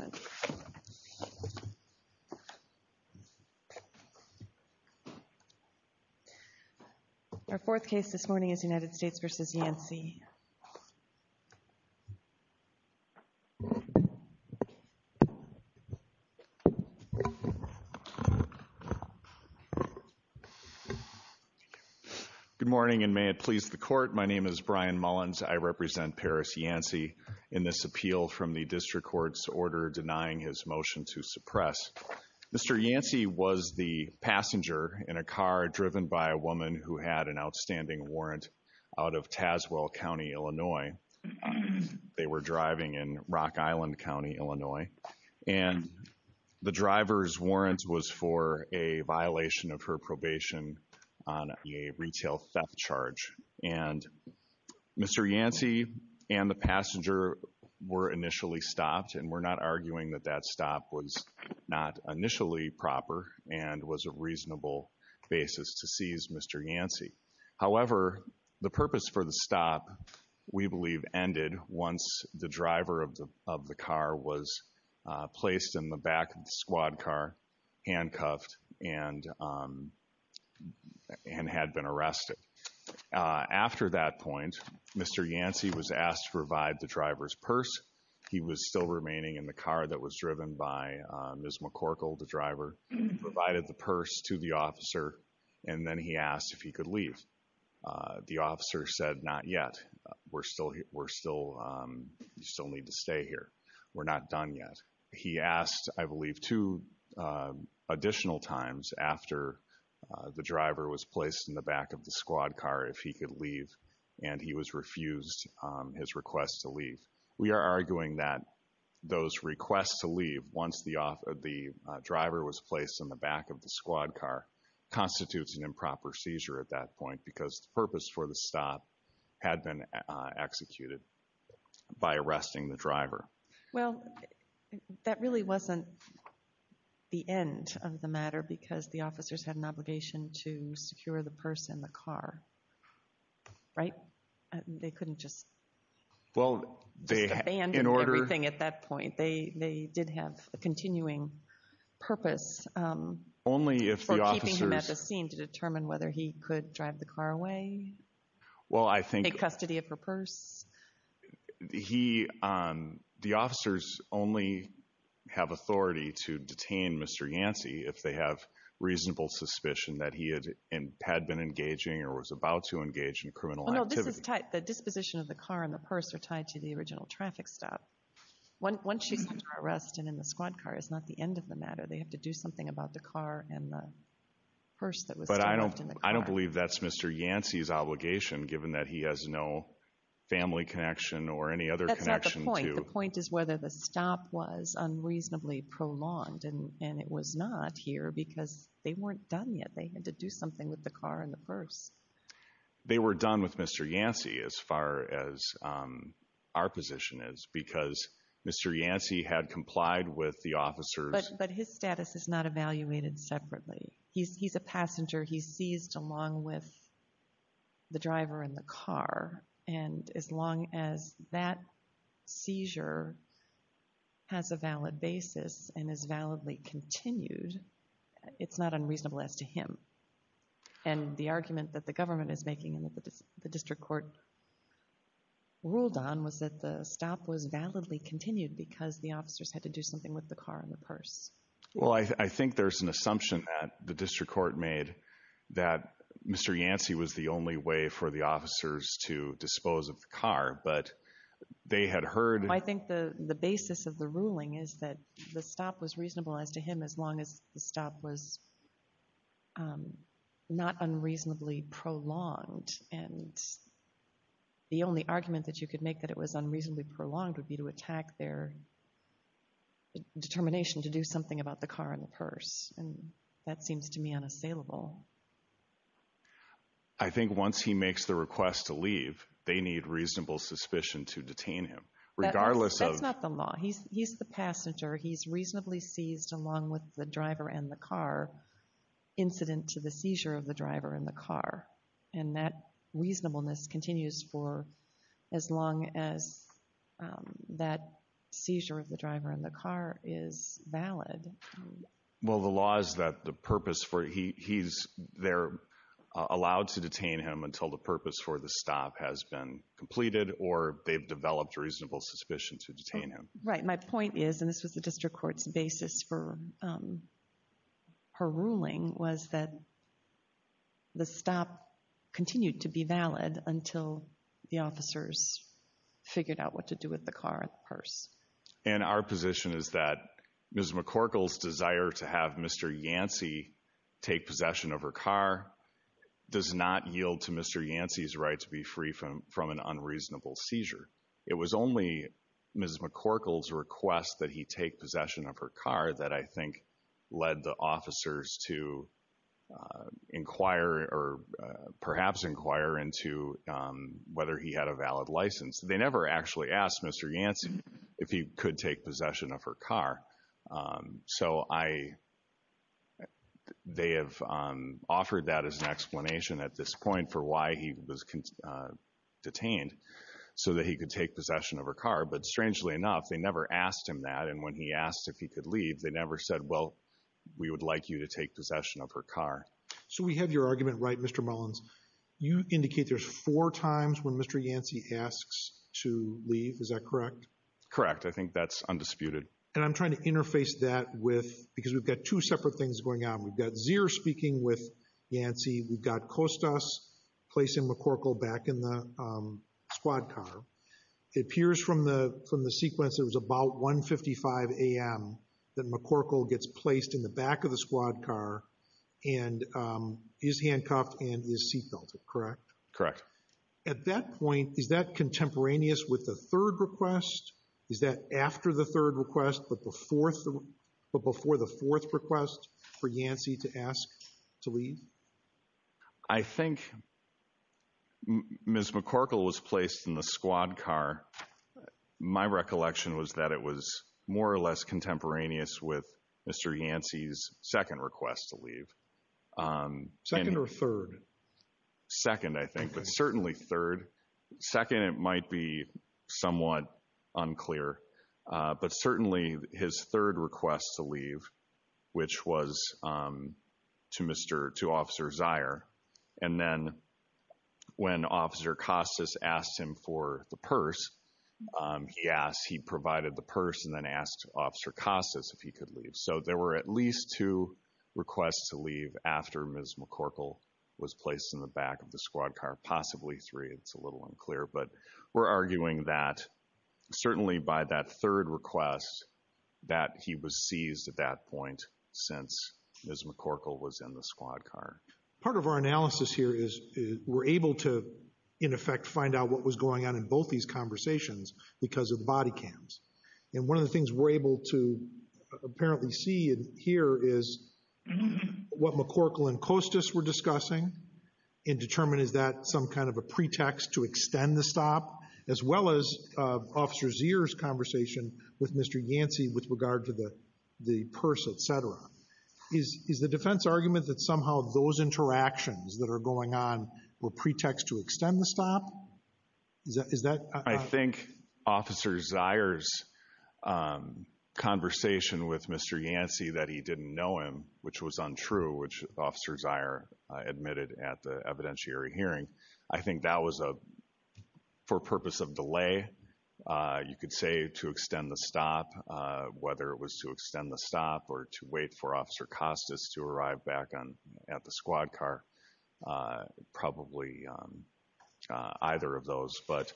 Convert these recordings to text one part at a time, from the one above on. Good morning and may it please the Court, my name is Brian Mullins, I represent Paris Order denying his motion to suppress. Mr. Yancey was the passenger in a car driven by a woman who had an outstanding warrant out of Tazewell County, Illinois. They were driving in Rock Island County, Illinois. And the driver's warrant was for a violation of her probation on a retail theft charge. And Mr. Yancey and the passenger were initially stopped and we're not arguing that that stop was not initially proper and was a reasonable basis to seize Mr. Yancey. However, the purpose for the stop, we believe, ended once the driver of the car was placed in the back of the squad car, handcuffed, and had been arrested. After that point, Mr. Yancey was asked to revive the driver's purse. He was still remaining in the car that was driven by Ms. McCorkle, the driver. He provided the purse to the officer and then he asked if he could leave. The officer said, not yet. We're still, we still need to stay here. We're not done yet. He asked, I believe, two additional times after the driver was placed in the back of the squad car if he could leave and he was refused his request to leave. We are arguing that those requests to leave, once the driver was placed in the back of the squad car, constitutes an improper seizure at that point because the purpose for the stop had been executed by arresting the driver. Well, that really wasn't the end of the matter because the officers had an obligation to secure the purse in the car. Right? They couldn't just... Well, they... Abandoned everything at that point. They did have a continuing purpose for keeping him at the scene to determine whether he could drive the car away. Well, I think... Take custody of her purse. He, the officers only have authority to detain Mr. Yancey if they have reasonable suspicion that he had been engaging or was about to engage in criminal activity. No, this is tied, the disposition of the car and the purse are tied to the original traffic stop. Once she's under arrest and in the squad car, it's not the end of the matter. They have to do something about the car and the purse that was left in the car. But I don't, I don't believe that's Mr. Yancey's obligation given that he has no family connection or any other connection to... That's not the point. The point is whether the stop was unreasonably prolonged and it was not here because they weren't done yet. They had to do something with the car and the purse. They were done with Mr. Yancey as far as our position is, because Mr. Yancey had complied with the officers... But his status is not evaluated separately. He's a passenger. He's seized along with the driver in the car. And as long as that seizure has a valid basis and is validly continued, it's not unreasonable as to him. And the argument that the government is making and that the district court ruled on was that the stop was validly continued because the officers had to do something with the car and the purse. Well, I think there's an assumption that the district court made that Mr. Yancey was the only way for the officers to dispose of the car, but they had heard... I think the basis of the ruling is that the stop was reasonable as to him as long as the stop was not unreasonably prolonged. And the only argument that you could make that it was unreasonably prolonged would be to attack their determination to do something about the car and the purse. And that seems to me unassailable. I think once he makes the request to leave, they need reasonable suspicion to detain him. That's not the law. He's the passenger. He's reasonably seized along with the driver and the car, incident to the seizure of the driver and the car. And that reasonableness continues for as long as that seizure of the driver and the car is valid. Well, the law is that the purpose for he's there allowed to detain him until the purpose for the stop has been completed or they've developed reasonable suspicion to detain him. Right. My point is, and this was the district court's basis for her ruling, was that the stop continued to be valid until the officers figured out what to do with the car and the purse. And our position is that Ms. McCorkle's desire to have Mr. Yancey take possession of her car does not yield to Mr. Yancey's right to be free from from an unreasonable seizure. It was only Ms. McCorkle's request that he take possession of her car that I think led the officers to inquire or perhaps inquire into whether he had a valid license. They never actually asked Mr. Yancey if he could take possession of her car. So I they have offered that as an explanation at this point for why he was detained so that he could take possession of her car. But strangely enough, they never asked him that. And when he asked if he could leave, they never said, well, we would like you to take possession of her car. So we have your argument, right, Mr. Mullins. You indicate there's four times when Mr. Yancey asks to leave. Is that correct? Correct. I think that's undisputed. And I'm trying to interface that with because we've got two separate things going on. We've got Zier speaking with Yancey. We've got Costas placing McCorkle back in the squad car. It appears from the from the sequence. It was about 1.55 a.m. that McCorkle gets placed in the back of the squad car and is handcuffed and is seat belted. Correct? Correct. At that point, is that contemporaneous with the third request? Is that after the third request, but before the fourth request for Yancey to ask to leave? I think Ms. McCorkle was placed in the squad car. My recollection was that it was more or less contemporaneous with Mr. Yancey's second request to leave. Second or third? Second, I think, but certainly third. Second, it might be somewhat unclear, but certainly his third request to leave, which was to Mr. to Officer Zier. And then when Officer Costas asked him for the purse, he asked, he provided the purse and then asked Officer Costas if he could leave. So there were at least two requests to leave after Ms. McCorkle was placed in the back of the squad car. Possibly three. It's a little unclear, but we're arguing that certainly by that third request that he was seized at that point since Ms. McCorkle was in the squad car. Part of our analysis here is we're able to, in effect, find out what was going on in both these conversations because of body cams. And one of the things we're able to apparently see and hear is what McCorkle and Costas were discussing and determine is that some kind of a pretext to extend the stop, as well as Officer Zier's conversation with Mr. Yancey with regard to the purse, etc. Is the defense argument that somehow those interactions that are going on were pretext to extend the stop? Is that? I think Officer Zier's conversation with Mr. Yancey that he didn't know him, which was untrue, which Officer Zier admitted at the evidentiary hearing. I think that was a, for purpose of delay, you could say to extend the stop, whether it was to extend the stop or to wait for Officer Costas to arrive back on at the squad car, probably either of those. But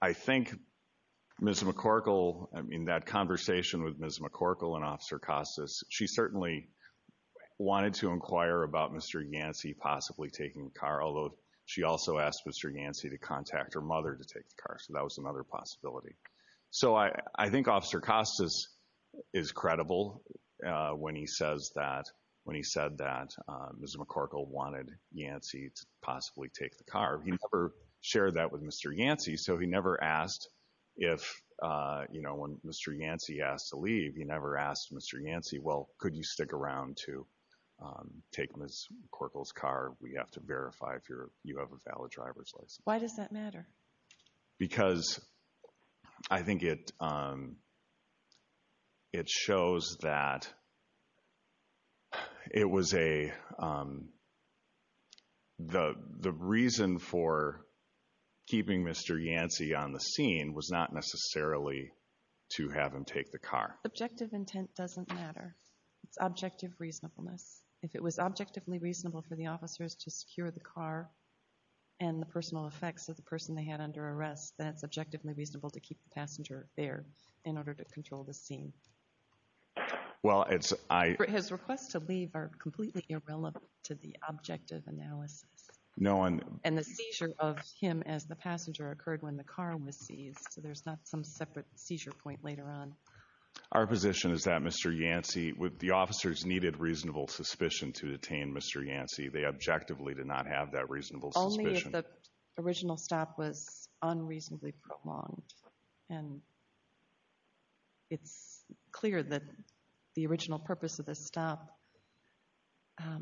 I think Ms. McCorkle, in that conversation with Ms. McCorkle and Officer Costas, she certainly wanted to inquire about Mr. Yancey possibly taking the car, although she also asked Mr. Yancey to contact her mother to take the car. So that was another possibility. So I think Officer Costas is credible when he says that, when he said that Ms. McCorkle wanted Yancey to possibly take the car. He never shared that with Mr. Yancey. So he never asked if, you know, when Mr. Yancey asked to leave, he never asked Mr. Yancey, well, could you stick around to take Ms. McCorkle's car? We have to verify if you have a valid driver's license. Why does that matter? Because I think it shows that it was a, the reason for keeping Mr. Yancey on the scene was not necessarily to have him take the car. Objective intent doesn't matter. It's objective reasonableness. If it was objectively reasonable for the officers to secure the car and the personal effects of the person they had under arrest, then it's objectively reasonable to keep the passenger there in order to control the scene. Well, it's, I... His requests to leave are completely irrelevant to the objective analysis. No, I'm... And the seizure of him as the passenger occurred when the car was seized. So there's not some separate seizure point later on. Our position is that Mr. Yancey, the officers needed reasonable suspicion to detain Mr. Yancey. They objectively did not have that reasonable suspicion. Only if the original stop was unreasonably prolonged. And it's clear that the original purpose of this stop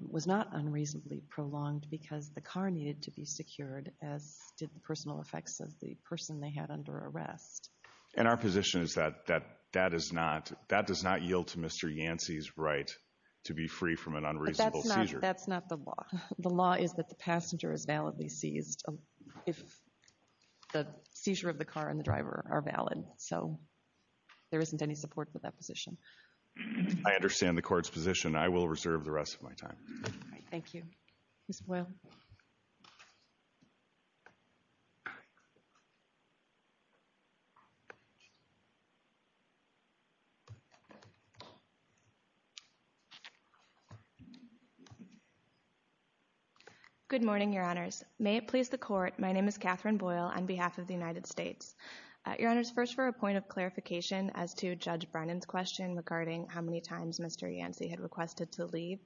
was not unreasonably prolonged because the car needed to be secured as did the personal effects of the person they had under arrest. And our position is that that is not, that does not yield to Mr. Yancey's right to be free from an unreasonable seizure. That's not the law. The law is that the passenger is validly seized if the seizure of the car and the driver are valid. So there isn't any support for that position. I understand the court's position. I will reserve the rest of my time. Thank you. Ms. Boyle. Good morning, Your Honors. May it please the court, my name is Catherine Boyle on behalf of the United States. Your Honors, first for a point of clarification as to Judge Brennan's question regarding how many times Mr. Yancey had requested to leave.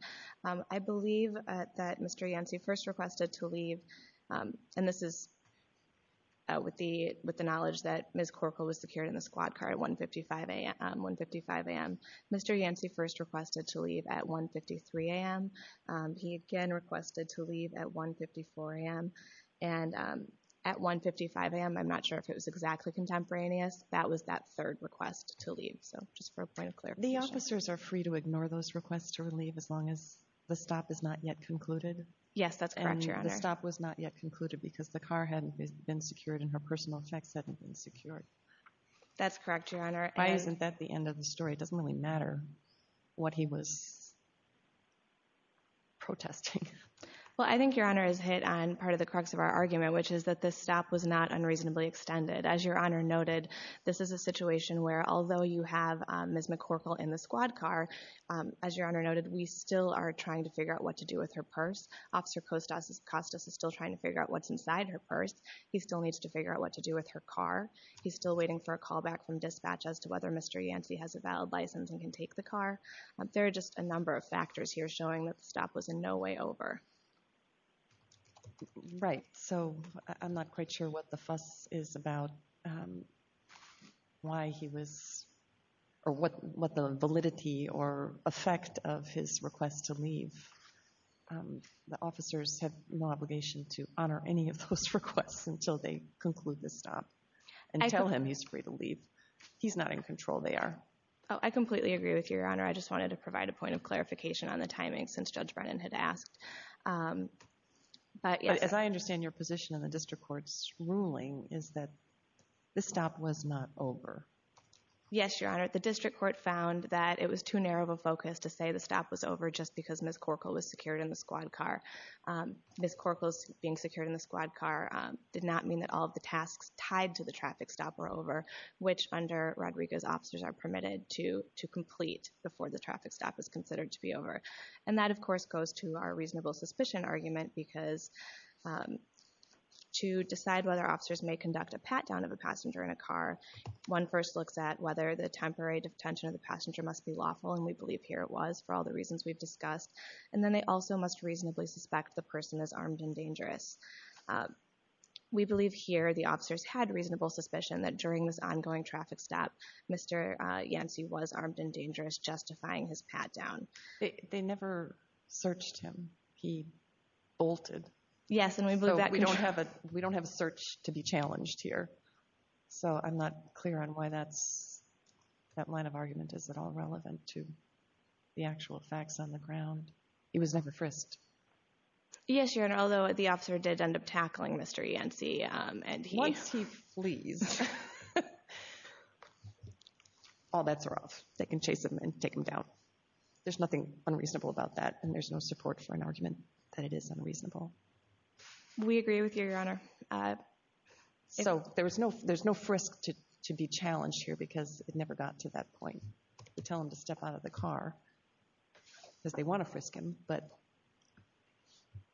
I believe that Mr. Yancey first requested to leave, and this is with the knowledge that Ms. Corkle was secured in the squad car at 155 AM. Mr. Yancey first requested to leave at 153 AM. He again requested to leave at 154 AM. And at 155 AM, I'm not sure if it was exactly contemporaneous, that was that third request to leave. So just for a point of clarification. The officers are free to ignore those requests to leave as long as the stop is not yet concluded? Yes, that's correct, Your Honor. And the stop was not yet concluded because the car hadn't been secured and her personal checks hadn't been secured. That's correct, Your Honor. Why isn't that the end of the story? It doesn't really matter what he was protesting. Well, I think Your Honor is hit on part of the crux of our argument, which is that this stop was not unreasonably extended. As Your Honor noted, this is a situation where although you have Ms. Corkle in the squad car, as Your Honor noted, we still are trying to figure out what to do with her purse. Officer Costas is still trying to figure out what's inside her purse. He still needs to figure out what to do with her car. He's still waiting for a callback from dispatch as to whether Mr. Yancey has a valid license and can take the car. There are just a number of factors here showing that the stop was in no way over. Right. So I'm not quite sure what the fuss is about why he was, or what the validity or effect of his request to leave. The officers have no obligation to honor any of those requests He's not in control, they are. Oh, I completely agree with you, Your Honor. I just wanted to provide a point of clarification on the timing since Judge Brennan had asked. As I understand your position in the district court's ruling is that the stop was not over. Yes, Your Honor. The district court found that it was too narrow of a focus to say the stop was over just because Ms. Corkle was secured in the squad car. Ms. Corkle's being secured in the squad car did not mean that all of the tasks tied to the traffic stop were over, which under Rodrigo's officers are permitted to complete before the traffic stop is considered to be over. And that, of course, goes to our reasonable suspicion argument because to decide whether officers may conduct a pat-down of a passenger in a car, one first looks at whether the temporary detention of the passenger must be lawful, and we believe here it was for all the reasons we've discussed. Um, we believe here the officers had reasonable suspicion that during this ongoing traffic stop, Mr. Yancey was armed and dangerous, justifying his pat-down. They never searched him. He bolted. Yes, and we believe that. So we don't have a search to be challenged here. So I'm not clear on why that line of argument is at all relevant to the actual facts on the ground. He was never frisked. Yes, Your Honor, although the officer did end up tackling Mr. Yancey, um, and he... Once he flees, all bets are off. They can chase him and take him down. There's nothing unreasonable about that, and there's no support for an argument that it is unreasonable. We agree with you, Your Honor. So there was no... There's no frisk to be challenged here because it never got to that point. We tell them to step out of the car because they want to frisk him, but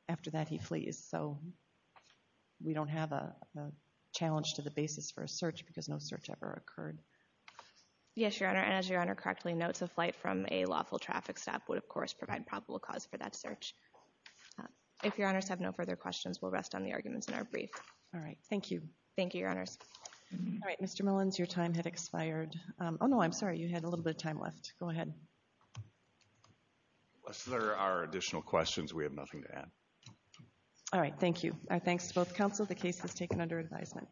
after that, he flees. So we don't have a challenge to the basis for a search because no search ever occurred. Yes, Your Honor, and as Your Honor correctly notes, a flight from a lawful traffic stop would, of course, provide probable cause for that search. If Your Honors have no further questions, we'll rest on the arguments in our brief. All right. Thank you. Thank you, Your Honors. All right, Mr. Millins, your time had expired. Oh, no, I'm sorry. You had a little bit of time left. Go ahead. Unless there are additional questions, we have nothing to add. All right. Thank you. Our thanks to both counsel. The case is taken under advisement.